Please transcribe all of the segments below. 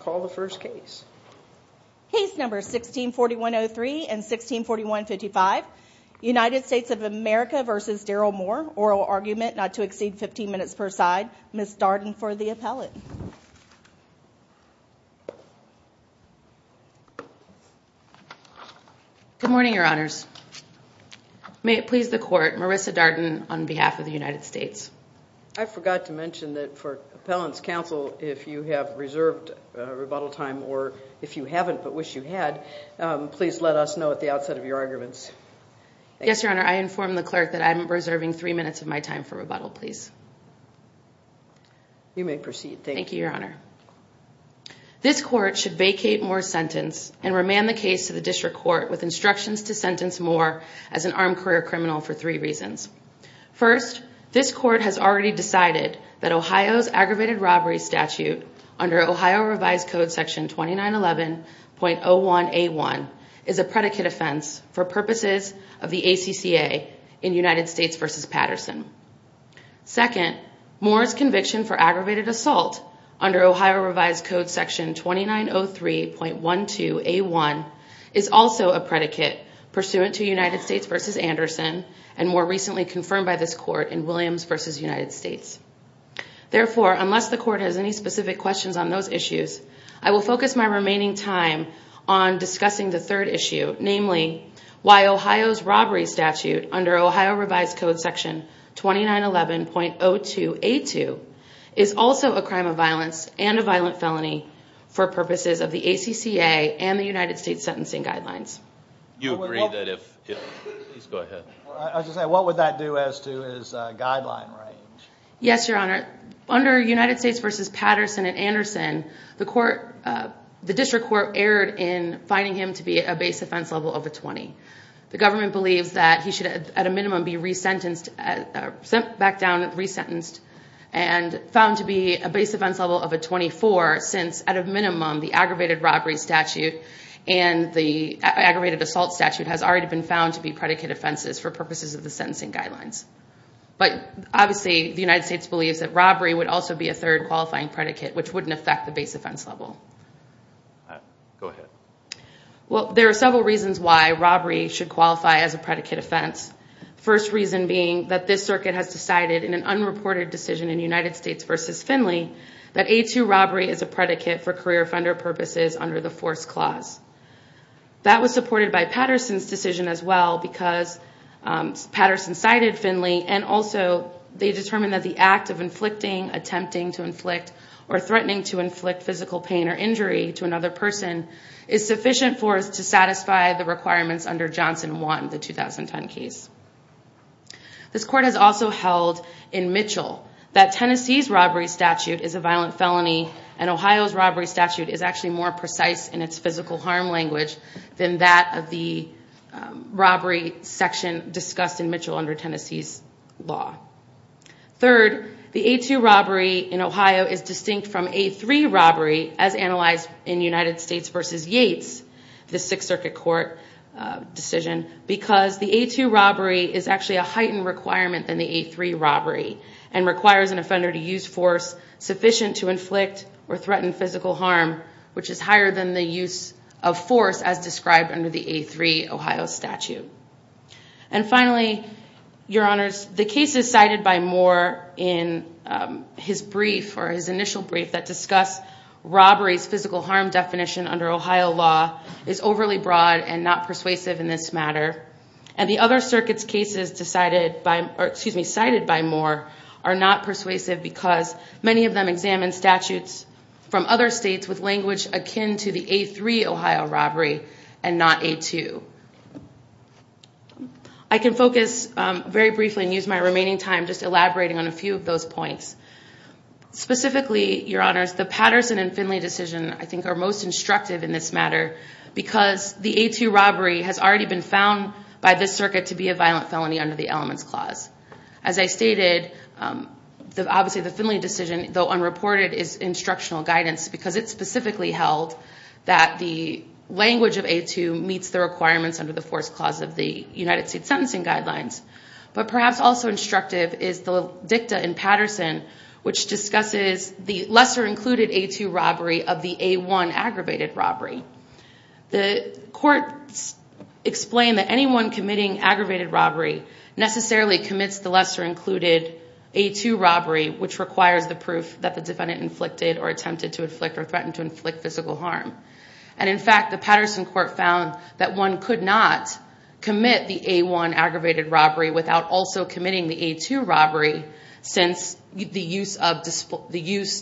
Call the first case. Case number 1641-03 and 1641-55. United States of America v. Darrell Moore. Oral argument not to exceed 15 minutes per side. Ms. Darden for the appellate. Good morning, your honors. May it please the court, Marissa Darden on behalf of the United States. I forgot to mention that for appellant's counsel, if you have reserved rebuttal time or if you haven't but wish you had, please let us know at the outset of your arguments. Yes, your honor, I informed the clerk that I'm reserving three minutes of my time for rebuttal, please. You may proceed. Thank you, your honor. This court should vacate Moore's sentence and remand the case to the district court with instructions to sentence Moore as an armed career criminal for three reasons. First, this court has already decided that Ohio's aggravated robbery statute under Ohio revised code section 2911.01A1 is a predicate offense for purposes of the ACCA in United States v. Patterson. Second, Moore's conviction for aggravated assault under Ohio revised code section 2903.12A1 is also a predicate pursuant to United States v. Anderson and more recently confirmed by this court in Williams v. United States. Therefore, unless the court has any specific questions on those issues, I will focus my remaining time on discussing the third issue, namely why Ohio's robbery statute under Ohio revised code section 2911.02A2 is also a crime of violence and a violent felony for purposes of the ACCA and the United States sentencing guidelines. What would that do as to his guideline range? Yes, your honor. Under United States v. Patterson and Anderson, the district court erred in finding him to be a base offense level of a 20. The government believes that he should at a minimum be sent back down and resentenced and found to be a base offense level of a 24 since at a minimum the aggravated robbery statute and the aggravated assault statute has already been found to be predicate offenses for purposes of the sentencing guidelines. But obviously the United States believes that robbery would also be a third qualifying predicate, which wouldn't affect the base offense level. Go ahead. Well, there are several reasons why robbery should qualify as a predicate offense. First reason being that this circuit has decided in an unreported decision in United States v. Finley that A2 robbery is a predicate for career offender purposes under the force clause. That was supported by Patterson's decision as well because Patterson cited Finley and also they determined that the act of inflicting, attempting to inflict, or threatening to inflict physical pain or injury to another person is sufficient for us to satisfy the requirements under Johnson 1, the 2010 case. This court has also held in Mitchell that Tennessee's robbery statute is a violent felony and Ohio's robbery statute is actually more precise in its physical harm language than that of the robbery section discussed in Mitchell under Tennessee's law. Third, the A2 robbery in Ohio is distinct from A3 robbery as analyzed in United States v. Yates, the Sixth Circuit Court decision, because the A2 robbery is actually a heightened requirement than the A3 robbery and requires an offender to use force sufficient to inflict or threaten physical harm, which is higher than the use of force as described under the A3 Ohio statute. And finally, your honors, the cases cited by Moore in his brief or his initial brief that discuss robbery's physical harm definition under Ohio law is overly broad and not persuasive in this matter. And the other circuits' cases cited by Moore are not persuasive because many of them examine statutes from other states with language akin to the A3 Ohio robbery and not A2. I can focus very briefly and use my remaining time just elaborating on a few of those points. Specifically, your honors, the Patterson and Finley decision I think are most instructive in this matter because the A2 robbery has already been found by this circuit to be a violent felony under the Elements Clause. As I stated, obviously the Finley decision, though unreported, is instructional guidance because it specifically held that the language of A2 meets the requirements under the Force Clause of the United States Sentencing Guidelines. But perhaps also instructive is the dicta in Patterson which discusses the lesser included A2 robbery of the A1 aggravated robbery. The court explained that anyone committing aggravated robbery necessarily commits the lesser included A2 robbery which requires the proof that the defendant inflicted or attempted to inflict or threatened to inflict physical harm. And in fact, the Patterson court found that one could not commit the A1 aggravated robbery without also committing the A2 robbery since the use,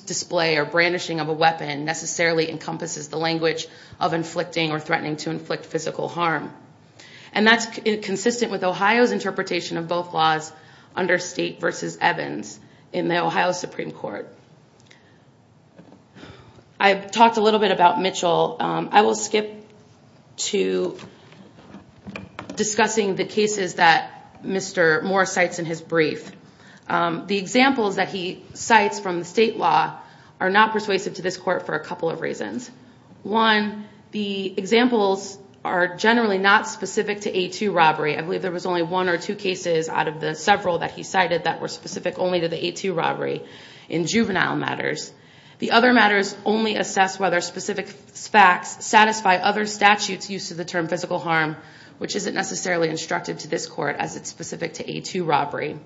display, or brandishing of a weapon necessarily encompasses the language of inflicting or threatening to inflict physical harm. And that's consistent with Ohio's interpretation of both laws under State v. Evans in the Ohio Supreme Court. I've talked a little bit about Mitchell. I will skip to discussing the cases that Mr. Morris cites in his brief. The examples that he cites from the state law are not persuasive to this court for a couple of reasons. One, the examples are generally not specific to A2 robbery. I believe there was only one or two cases out of the several that he cited that were specific only to the A2 robbery in juvenile matters. The other matters only assess whether specific facts satisfy other statutes used to determine physical harm which isn't necessarily instructive to this court as it's specific to A2 robbery.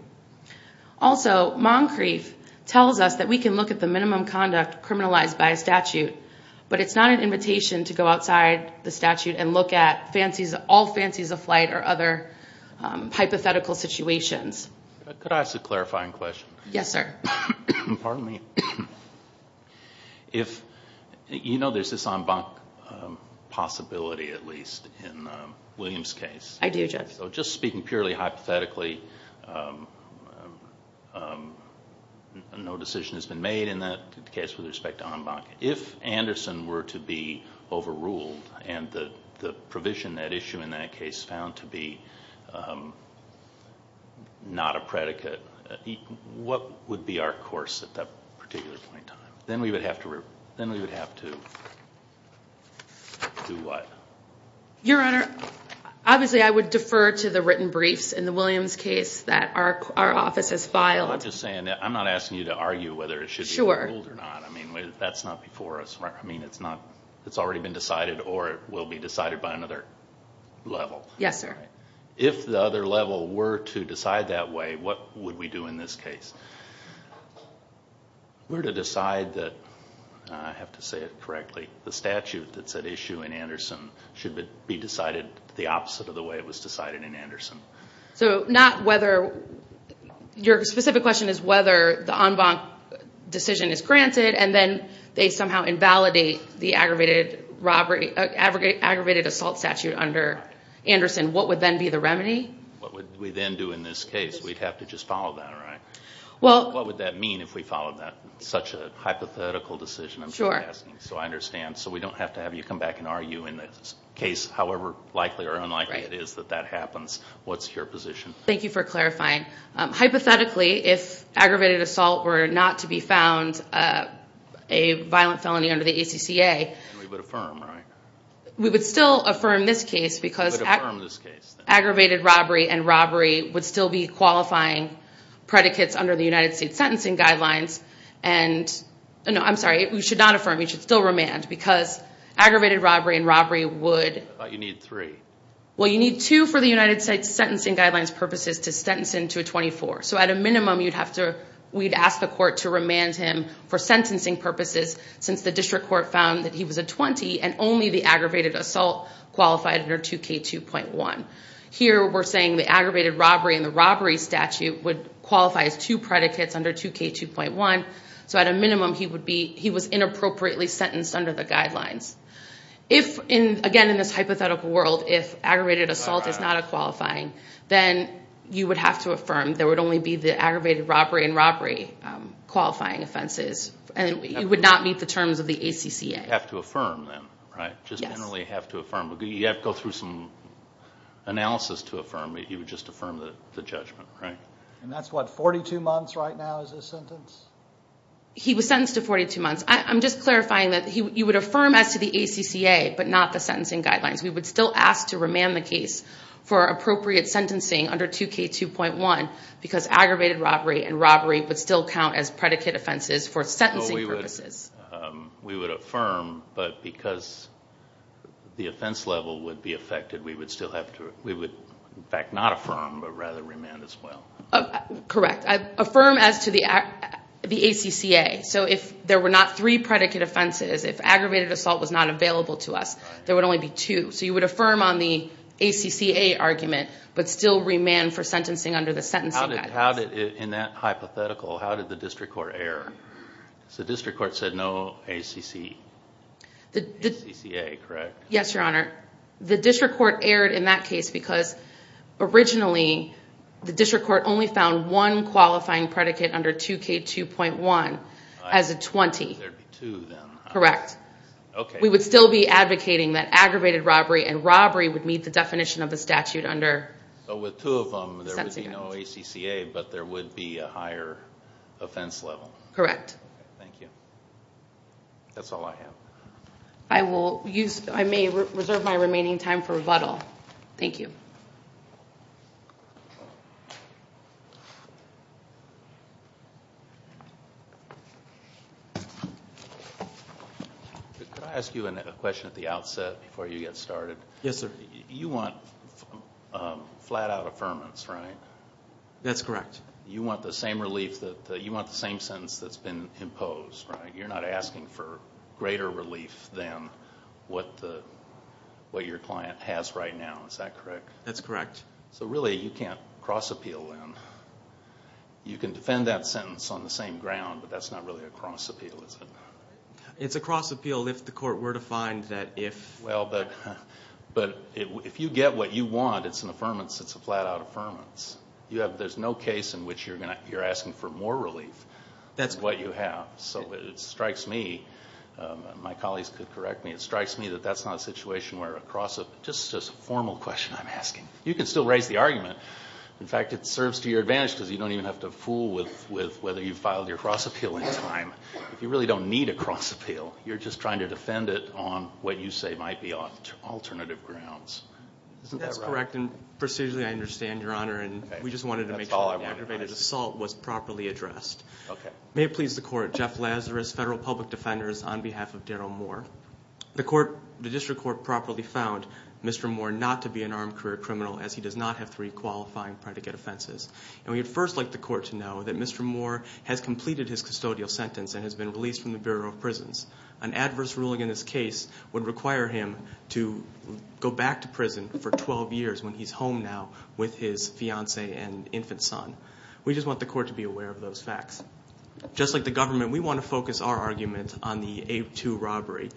Also, Moncrief tells us that we can look at the minimum conduct criminalized by a statute, but it's not an invitation to go outside the statute and look at all fancies of flight or other hypothetical situations. Could I ask a clarifying question? Yes, sir. Pardon me. You know there's this en banc possibility at least in Williams' case. I do, Judge. Just speaking purely hypothetically, no decision has been made in that case with respect to en banc. If Anderson were to be overruled and the provision that issue in that case found to be not a predicate, what would be our course at that particular point in time? Then we would have to do what? Your Honor, obviously I would defer to the written briefs in the Williams case that our office has filed. I'm not asking you to argue whether it should be overruled or not. That's not before us. It's already been decided or will be decided by another level. Yes, sir. If the other level were to decide that way, what would we do in this case? We're to decide that, I have to say it correctly, the statute that's at issue in Anderson should be decided the opposite of the way it was decided in Anderson. Your specific question is whether the en banc decision is granted and then they somehow invalidate the aggravated assault statute under Anderson. What would then be the remedy? What would we then do in this case? We'd have to just follow that, right? What would that mean if we followed that? It's such a hypothetical decision I'm asking. I understand. We don't have to have you come back and argue in this case, however likely or unlikely it is that that happens. What's your position? Thank you for clarifying. Hypothetically, if aggravated assault were not to be found a violent felony under the ACCA... We would affirm, right? We would still affirm this case because aggravated robbery and robbery would still be qualifying predicates under the United States sentencing guidelines. I'm sorry. We should not affirm. We should still remand because aggravated robbery and robbery would... I thought you need three. Well, you need two for the United States sentencing guidelines purposes to sentence him to a 24. At a minimum, we'd ask the court to remand him for sentencing purposes since the district court found that he was a 20 and only the aggravated assault qualified under 2K2.1. Here, we're saying the aggravated robbery and the robbery statute would qualify as two predicates under 2K2.1. At a minimum, he was inappropriately sentenced under the guidelines. Again, in this hypothetical world, if aggravated assault is not a qualifying, then you would have to affirm. There would only be the aggravated robbery and robbery qualifying offenses. You would not meet the terms of the ACCA. You would have to affirm then, right? Yes. Just generally have to affirm. You have to go through some analysis to affirm. You would just affirm the judgment, right? That's what, 42 months right now is his sentence? He was sentenced to 42 months. I'm just clarifying that you would affirm as to the ACCA but not the sentencing guidelines. We would still ask to remand the case for appropriate sentencing under 2K2.1 because aggravated robbery and robbery would still count as predicate offenses for sentencing purposes. We would affirm but because the offense level would be affected, we would in fact not affirm but rather remand as well. Correct. Affirm as to the ACCA. If there were not three predicate offenses, if aggravated assault was not available to us, there would only be two. You would affirm on the ACCA argument but still remand for sentencing under the sentencing guidelines. In that hypothetical, how did the district court err? The district court said no ACCA, correct? Yes, Your Honor. The district court erred in that case because originally the district court only found one qualifying predicate under 2K2.1 as a 20. There would be two then. Correct. Okay. We would still be advocating that aggravated robbery and robbery would meet the definition of the statute under the sentencing guidelines. With two of them, there would be no ACCA but there would be a higher offense level. Correct. Thank you. That's all I have. I may reserve my remaining time for rebuttal. Thank you. Could I ask you a question at the outset before you get started? Yes, sir. You want flat out affirmance, right? That's correct. You want the same relief, you want the same sentence that's been imposed, right? You're not asking for greater relief than what your client has right now, is that correct? That's correct. Really, you can't cross appeal then. You can defend that sentence on the same ground but that's not really a cross appeal, is it? It's a cross appeal if the court were to find that if... If you get what you want, it's an affirmance, it's a flat out affirmance. There's no case in which you're asking for more relief than what you have. So it strikes me, and my colleagues could correct me, it strikes me that that's not a situation where a cross appeal... Just a formal question I'm asking. You can still raise the argument. In fact, it serves to your advantage because you don't even have to fool with whether you filed your cross appeal in time. You really don't need a cross appeal. You're just trying to defend it on what you say might be alternative grounds. Isn't that right? That's correct, and procedurally I understand, Your Honor, and we just wanted to make sure the aggravated assault was properly addressed. May it please the court, Jeff Lazarus, Federal Public Defenders, on behalf of Darryl Moore. The district court properly found Mr. Moore not to be an armed career criminal as he does not have three qualifying predicate offenses. We would first like the court to know that Mr. Moore has completed his custodial sentence and has been released from the Bureau of Prisons. An adverse ruling in this case would require him to go back to prison for 12 years, when he's home now with his fiance and infant son. We just want the court to be aware of those facts. Just like the government, we want to focus our argument on the 8-2 robbery.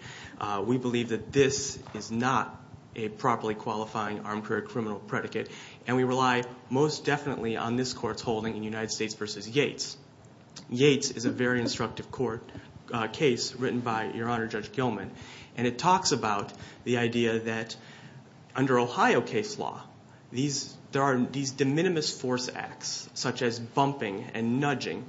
We believe that this is not a properly qualifying armed career criminal predicate, and we rely most definitely on this court's holding in United States v. Yates. Yates is a very instructive court case written by Your Honor Judge Gilman, and it talks about the idea that under Ohio case law there are these de minimis force acts, such as bumping and nudging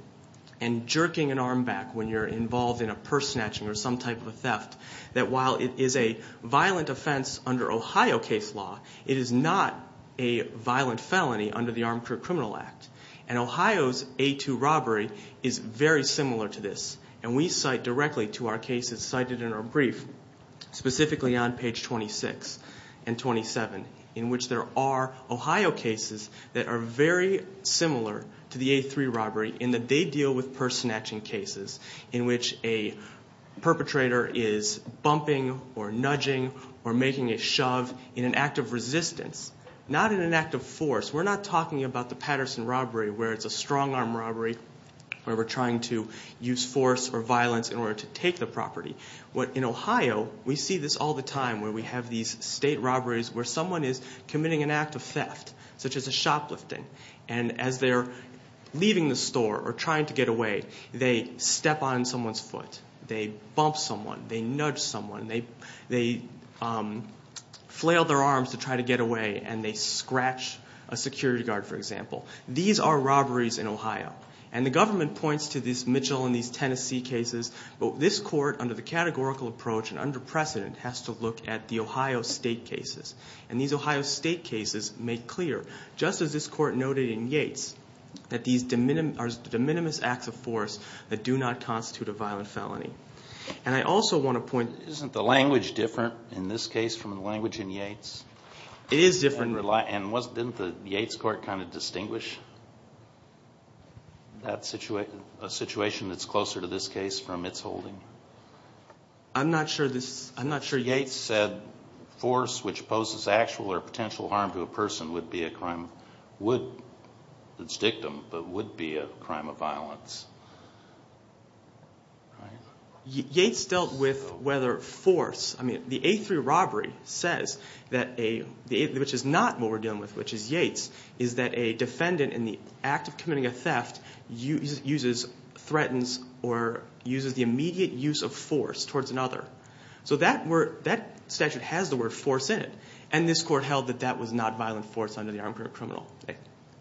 and jerking an arm back when you're involved in a purse snatching or some type of a theft, that while it is a violent offense under Ohio case law, it is not a violent felony under the Armed Career Criminal Act. And Ohio's 8-2 robbery is very similar to this, and we cite directly to our cases cited in our brief, specifically on page 26 and 27, in which there are Ohio cases that are very similar to the 8-3 robbery in that they deal with purse snatching cases in which a perpetrator is bumping or nudging or making a shove in an act of resistance, not in an act of force. We're not talking about the Patterson robbery where it's a strong-arm robbery where we're trying to use force or violence in order to take the property. In Ohio, we see this all the time where we have these state robberies where someone is committing an act of theft, such as a shoplifting, and as they're leaving the store or trying to get away, they step on someone's foot, they bump someone, they nudge someone, they flail their arms to try to get away, and they scratch a security guard, for example. These are robberies in Ohio. And the government points to this Mitchell and these Tennessee cases, but this court, under the categorical approach and under precedent, has to look at the Ohio state cases. And these Ohio state cases make clear, just as this court noted in Yates, that these are de minimis acts of force that do not constitute a violent felony. And I also want to point... Isn't the language different in this case from the language in Yates? It is different. And didn't the Yates court kind of distinguish a situation that's closer to this case from its holding? I'm not sure this... I'm not sure Yates said force which poses actual or potential harm to a person would be a crime, would its dictum, but would be a crime of violence. Yates dealt with whether force... I mean, the A3 robbery says that a... which is not what we're dealing with, which is Yates, is that a defendant in the act of committing a theft uses, threatens, or uses the immediate use of force towards another. So that statute has the word force in it, and this court held that that was not violent force under the Armed Criminal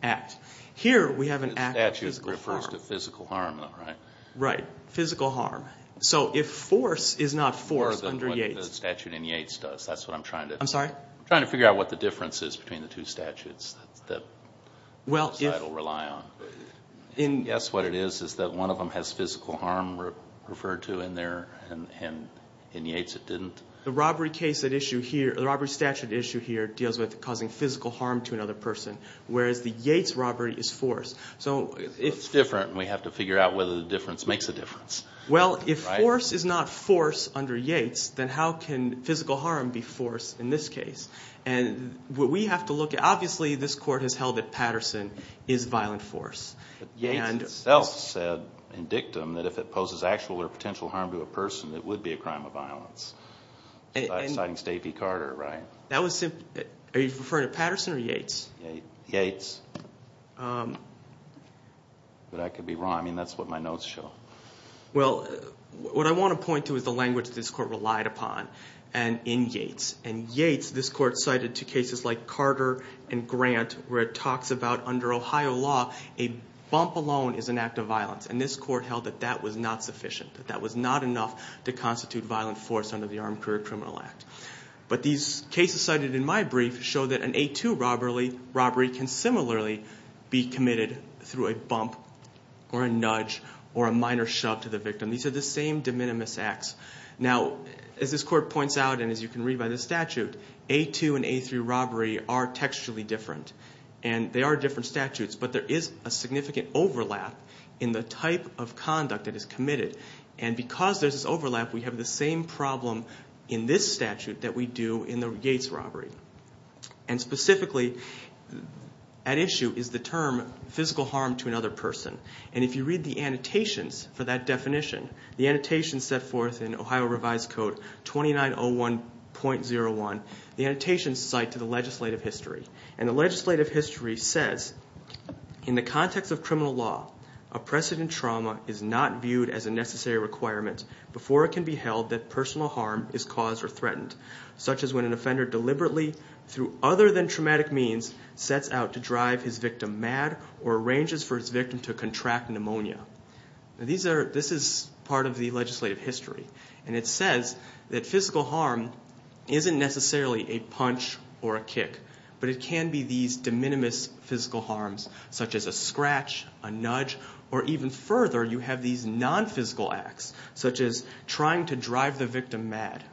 Act. Here we have an act of physical harm. The statute refers to physical harm, though, right? Right, physical harm. So if force is not force under Yates... More than what the statute in Yates does. That's what I'm trying to... I'm sorry? I'm trying to figure out what the difference is between the two statutes that... Well, if... ...it'll rely on. And guess what it is, is that one of them has physical harm referred to in there, and in Yates it didn't. The robbery case at issue here, the robbery statute at issue here, deals with causing physical harm to another person, whereas the Yates robbery is force. So if... It's different, and we have to figure out whether the difference makes a difference. Well, if force is not force under Yates, then how can physical harm be force in this case? And what we have to look at, obviously this court has held that Patterson is violent force. But Yates itself said in dictum that if it poses actual or potential harm to a person, it would be a crime of violence, citing Stacey Carter, right? That was simply... Are you referring to Patterson or Yates? Yates. But I could be wrong. I mean, that's what my notes show. Well, what I want to point to is the language this court relied upon in Yates. And Yates, this court cited to cases like Carter and Grant, where it talks about under Ohio law a bump alone is an act of violence. And this court held that that was not sufficient, that that was not enough to constitute violent force under the Armed Career Criminal Act. But these cases cited in my brief show that an A2 robbery can similarly be committed through a bump or a nudge or a minor shove to the victim. These are the same de minimis acts. Now, as this court points out and as you can read by the statute, A2 and A3 robbery are textually different. And they are different statutes, but there is a significant overlap in the type of conduct that is committed. And because there's this overlap, we have the same problem in this statute that we do in the Yates robbery. And specifically at issue is the term physical harm to another person. And if you read the annotations for that definition, the annotations set forth in Ohio Revised Code 2901.01, the annotations cite to the legislative history. And the legislative history says, in the context of criminal law, a precedent trauma is not viewed as a necessary requirement before it can be held that personal harm is caused or threatened, such as when an offender deliberately through other than traumatic means sets out to drive his victim mad or arranges for his victim to contract pneumonia. Now, this is part of the legislative history. And it says that physical harm isn't necessarily a punch or a kick, but it can be these de minimis physical harms, such as a scratch, a nudge, or even further, you have these non-physical acts, such as trying to drive the victim mad.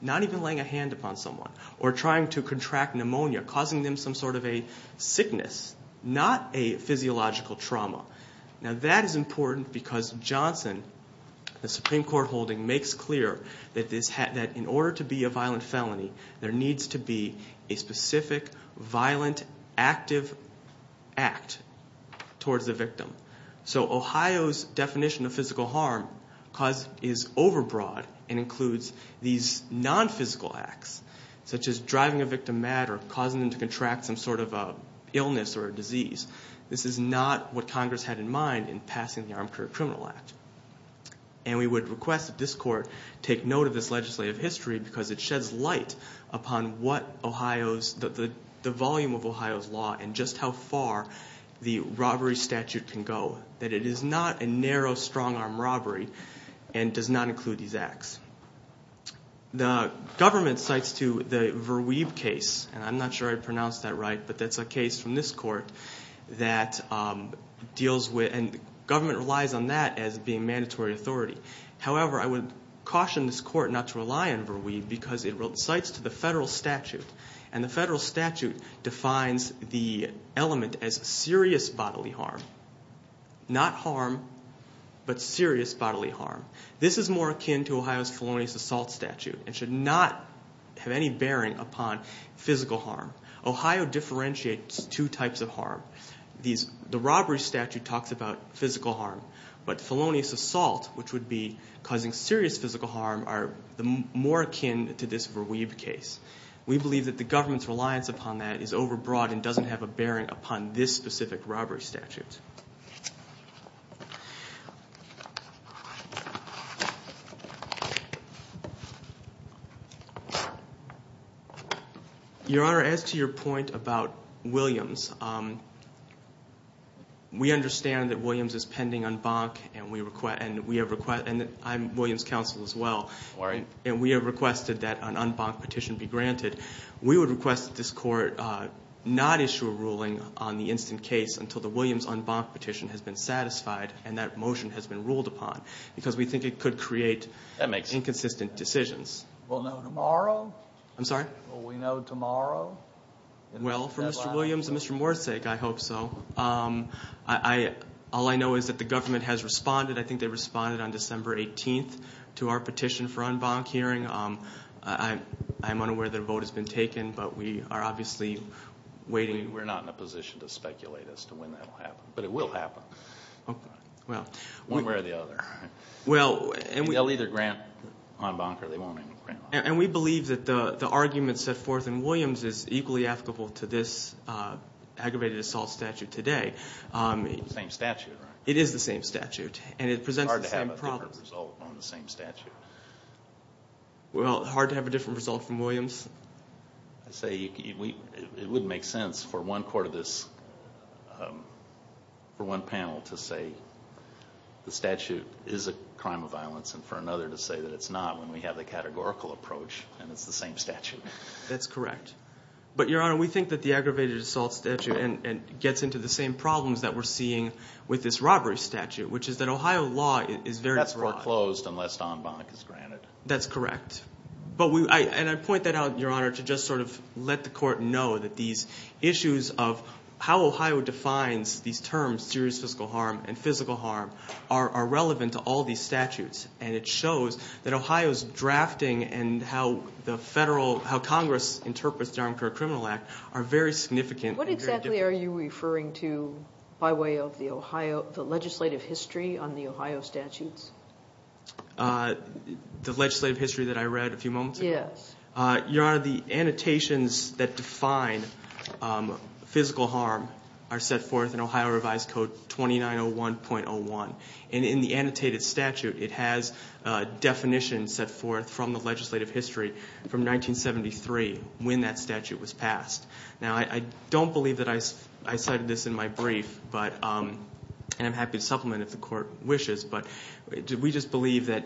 Not even laying a hand upon someone, or trying to contract pneumonia, causing them some sort of a sickness, not a physiological trauma. Now, that is important because Johnson, the Supreme Court holding, makes clear that in order to be a violent felony, there needs to be a specific violent active act towards the victim. So Ohio's definition of physical harm is overbroad and includes these non-physical acts, such as driving a victim mad or causing them to contract some sort of an illness or a disease. This is not what Congress had in mind in passing the Armed Career Criminal Act. And we would request that this Court take note of this legislative history because it sheds light upon what Ohio's, the volume of Ohio's law and just how far the robbery statute can go, that it is not a narrow, strong-arm robbery and does not include these acts. The government cites to the Verweeb case, and I'm not sure I pronounced that right, but that's a case from this Court that deals with, and the government relies on that as being mandatory authority. However, I would caution this Court not to rely on Verweeb because it cites to the federal statute. And the federal statute defines the element as serious bodily harm. Not harm, but serious bodily harm. This is more akin to Ohio's felonious assault statute and should not have any bearing upon physical harm. Ohio differentiates two types of harm. The robbery statute talks about physical harm, but felonious assault, which would be causing serious physical harm, are more akin to this Verweeb case. We believe that the government's reliance upon that is overbroad and doesn't have a bearing upon this specific robbery statute. Your Honor, as to your point about Williams, we understand that Williams is pending en banc, and I'm Williams counsel as well, and we have requested that an en banc petition be granted. We would request that this Court not issue a ruling on the instant case until the Williams en banc petition has been satisfied and that motion has been ruled upon, because we think it could create inconsistent decisions. Will no tomorrow? I'm sorry? Will we know tomorrow? Well, for Mr. Williams and Mr. Moore's sake, I hope so. All I know is that the government has responded. I think they responded on December 18th to our petition for en banc hearing. I'm unaware that a vote has been taken, but we are obviously waiting. We're not in a position to speculate as to when that will happen, but it will happen. Okay. One way or the other. They'll either grant en banc or they won't even grant en banc. And we believe that the argument set forth in Williams is equally applicable to this aggravated assault statute today. It's the same statute, right? It is the same statute, and it presents the same problem. Well, hard to have a different result from Williams. I say it wouldn't make sense for one panel to say the statute is a crime of violence and for another to say that it's not when we have the categorical approach and it's the same statute. That's correct. But, Your Honor, we think that the aggravated assault statute gets into the same problems that we're seeing with this robbery statute, which is that Ohio law is very flawed. That's foreclosed unless en banc is granted. That's correct. And I point that out, Your Honor, to just sort of let the court know that these issues of how Ohio defines these terms, serious physical harm and physical harm, are relevant to all these statutes. And it shows that Ohio's drafting and how Congress interprets the Aramcura Criminal Act are very significant. What exactly are you referring to by way of the legislative history on the Ohio statutes? The legislative history that I read a few moments ago? Yes. Your Honor, the annotations that define physical harm are set forth in Ohio Revised Code 2901.01. And in the annotated statute, it has definitions set forth from the legislative history from 1973 when that statute was passed. Now, I don't believe that I cited this in my brief, and I'm happy to supplement if the court wishes, but we just believe that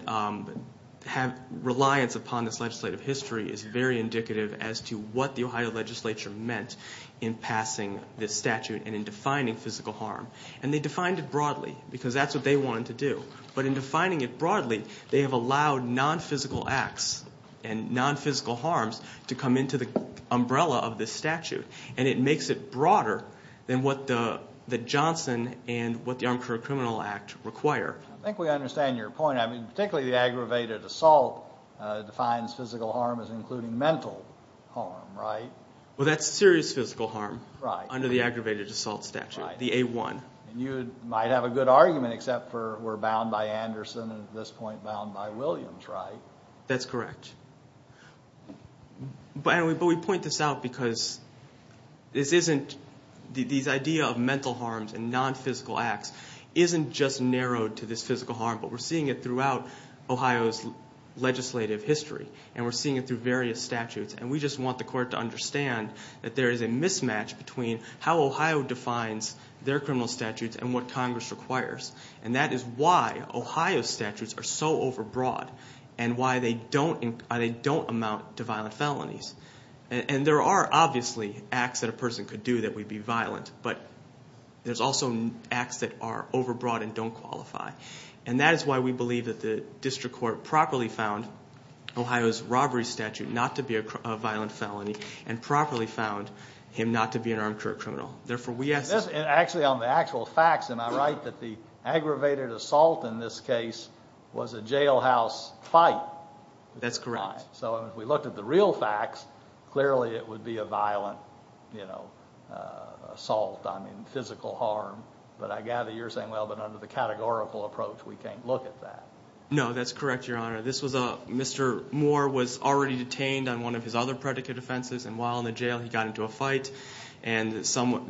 reliance upon this legislative history is very indicative as to what the Ohio legislature meant in passing this statute and in defining physical harm. And they defined it broadly because that's what they wanted to do. But in defining it broadly, they have allowed nonphysical acts and nonphysical harms to come into the umbrella of this statute. And it makes it broader than what the Johnson and what the Aramcura Criminal Act require. I think we understand your point. I mean, particularly the aggravated assault defines physical harm as including mental harm, right? Well, that's serious physical harm under the aggravated assault statute, the A-1. And you might have a good argument except for we're bound by Anderson and at this point bound by Williams, right? That's correct. But we point this out because this isn't the idea of mental harms and nonphysical acts isn't just narrowed to this physical harm, but we're seeing it throughout Ohio's legislative history, and we're seeing it through various statutes. And we just want the court to understand that there is a mismatch between how Ohio defines their criminal statutes and what Congress requires. And that is why Ohio's statutes are so overbroad and why they don't amount to violent felonies. And there are obviously acts that a person could do that would be violent, but there's also acts that are overbroad and don't qualify. And that is why we believe that the district court properly found Ohio's robbery statute not to be a violent felony and properly found him not to be an Aramcura criminal. Actually, on the actual facts, am I right that the aggravated assault in this case was a jailhouse fight? That's correct. So if we looked at the real facts, clearly it would be a violent assault, I mean physical harm. But I gather you're saying, well, but under the categorical approach we can't look at that. No, that's correct, Your Honor. Mr. Moore was already detained on one of his other predicate offenses, and while in the jail he got into a fight and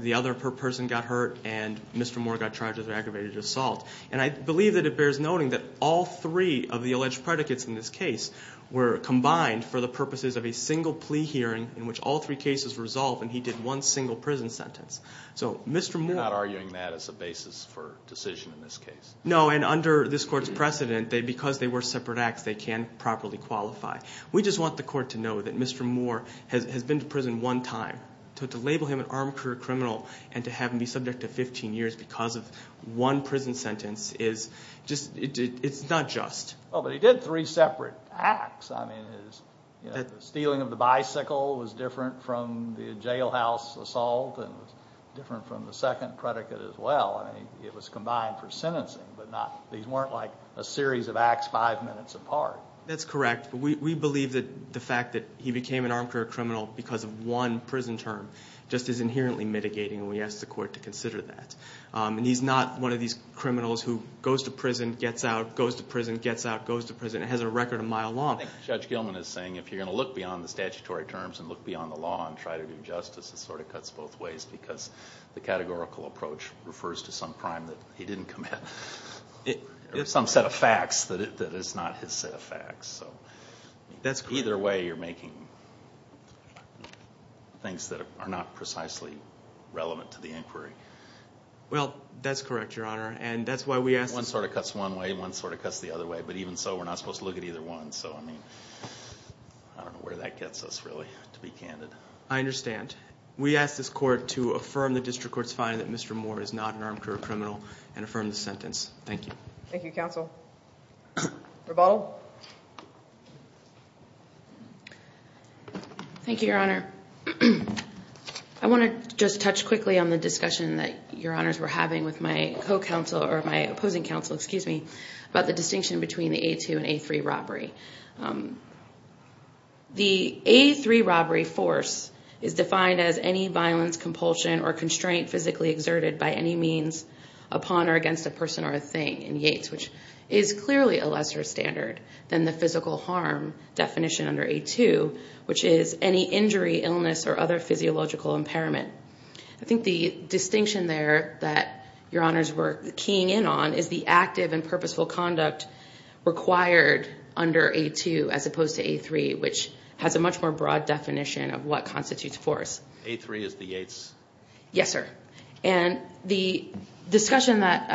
the other person got hurt and Mr. Moore got charged with aggravated assault. And I believe that it bears noting that all three of the alleged predicates in this case were combined for the purposes of a single plea hearing in which all three cases were resolved and he did one single prison sentence. You're not arguing that as a basis for decision in this case? No, and under this court's precedent, because they were separate acts, they can't properly qualify. We just want the court to know that Mr. Moore has been to prison one time. To label him an armed career criminal and to have him be subject to 15 years because of one prison sentence is just, it's not just. Well, but he did three separate acts. I mean, his stealing of the bicycle was different from the jailhouse assault and different from the second predicate as well. I mean, it was combined for sentencing, but these weren't like a series of acts five minutes apart. That's correct. We believe that the fact that he became an armed career criminal because of one prison term just is inherently mitigating and we ask the court to consider that. And he's not one of these criminals who goes to prison, gets out, goes to prison, gets out, goes to prison. It has a record a mile long. I think Judge Gilman is saying if you're going to look beyond the statutory terms and look beyond the law and try to do justice, it sort of cuts both ways because the categorical approach refers to some crime that he didn't commit or some set of facts that is not his set of facts. Either way, you're making things that are not precisely relevant to the inquiry. Well, that's correct, Your Honor, and that's why we ask. One sort of cuts one way, one sort of cuts the other way, but even so we're not supposed to look at either one. So, I mean, I don't know where that gets us really, to be candid. I understand. We ask this court to affirm the district court's finding that Mr. Moore is not an armed career criminal and affirm the sentence. Thank you. Thank you, counsel. Rebottle. Thank you, Your Honor. I want to just touch quickly on the discussion that Your Honors were having with my opposing counsel about the distinction between the A2 and A3 robbery. The A3 robbery force is defined as any violence, compulsion, or constraint physically exerted by any means upon or against a person or a thing in Yates, which is clearly a lesser standard than the physical harm definition under A2, which is any injury, illness, or other physiological impairment. I think the distinction there that Your Honors were keying in on is the active and purposeful conduct required under A2 as opposed to A3, which has a much more broad definition of what constitutes force. A3 is the Yates? Yes, sir. And the discussion that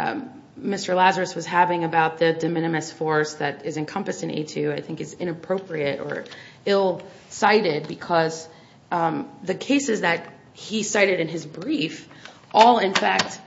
Mr. Lazarus was having about the de minimis force that is encompassed in A2 I think is inappropriate or ill-cited because the cases that he cited in his brief all, in fact,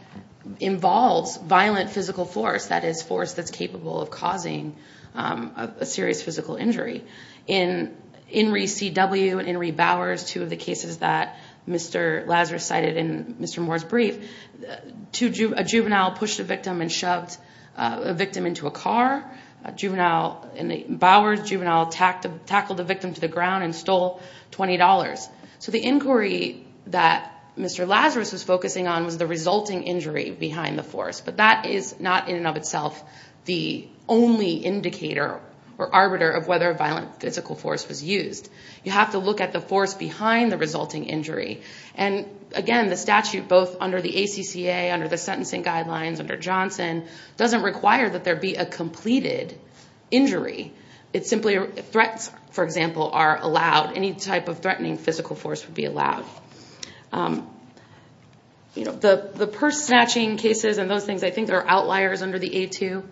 involves violent physical force, that is, force that's capable of causing a serious physical injury. In Inree C.W. and Inree Bowers, two of the cases that Mr. Lazarus cited in Mr. Moore's brief, a juvenile pushed a victim and shoved a victim into a car. Bowers' juvenile tackled the victim to the ground and stole $20. So the inquiry that Mr. Lazarus was focusing on was the resulting injury behind the force, but that is not in and of itself the only indicator or arbiter of whether violent physical force was used. You have to look at the force behind the resulting injury. And, again, the statute both under the ACCA, under the sentencing guidelines, under Johnson, doesn't require that there be a completed injury. It's simply threats, for example, are allowed. Any type of threatening physical force would be allowed. You know, the purse snatching cases and those things, I think, are outliers under the A2.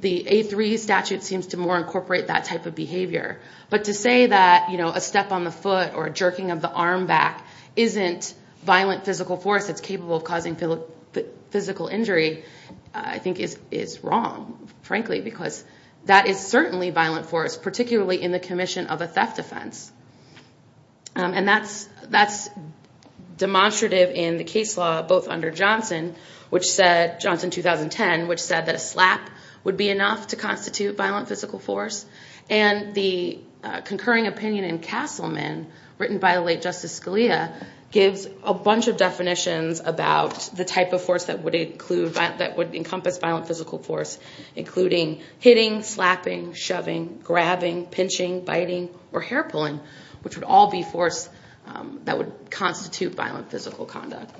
The A3 statute seems to more incorporate that type of behavior. But to say that, you know, a step on the foot or a jerking of the arm back isn't violent physical force that's capable of causing physical injury, I think, is wrong, frankly, because that is certainly violent force, particularly in the commission of a theft offense. And that's demonstrative in the case law both under Johnson, which said, Johnson 2010, which said that a slap would be enough to constitute violent physical force. And the concurring opinion in Castleman, written by the late Justice Scalia, gives a bunch of definitions about the type of force that would encompass violent physical force, including hitting, slapping, shoving, grabbing, pinching, biting, or hair pulling, which would all be force that would constitute violent physical conduct.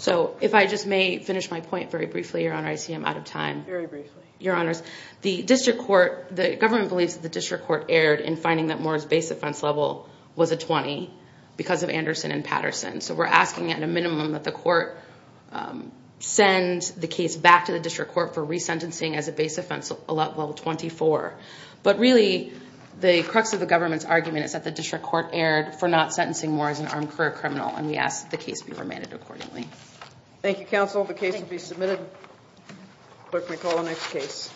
So if I just may finish my point very briefly, Your Honor, I see I'm out of time. Very briefly. Your Honors, the district court, the government believes that the district court erred in finding that Moore's base offense level was a 20 because of Anderson and Patterson. So we're asking at a minimum that the court send the case back to the district court for resentencing as a base offense level 24. But really, the crux of the government's argument is that the district court erred for not sentencing Moore as an armed career criminal, and we ask that the case be remanded accordingly. Thank you, counsel. The case will be submitted. Clerk may call the next case.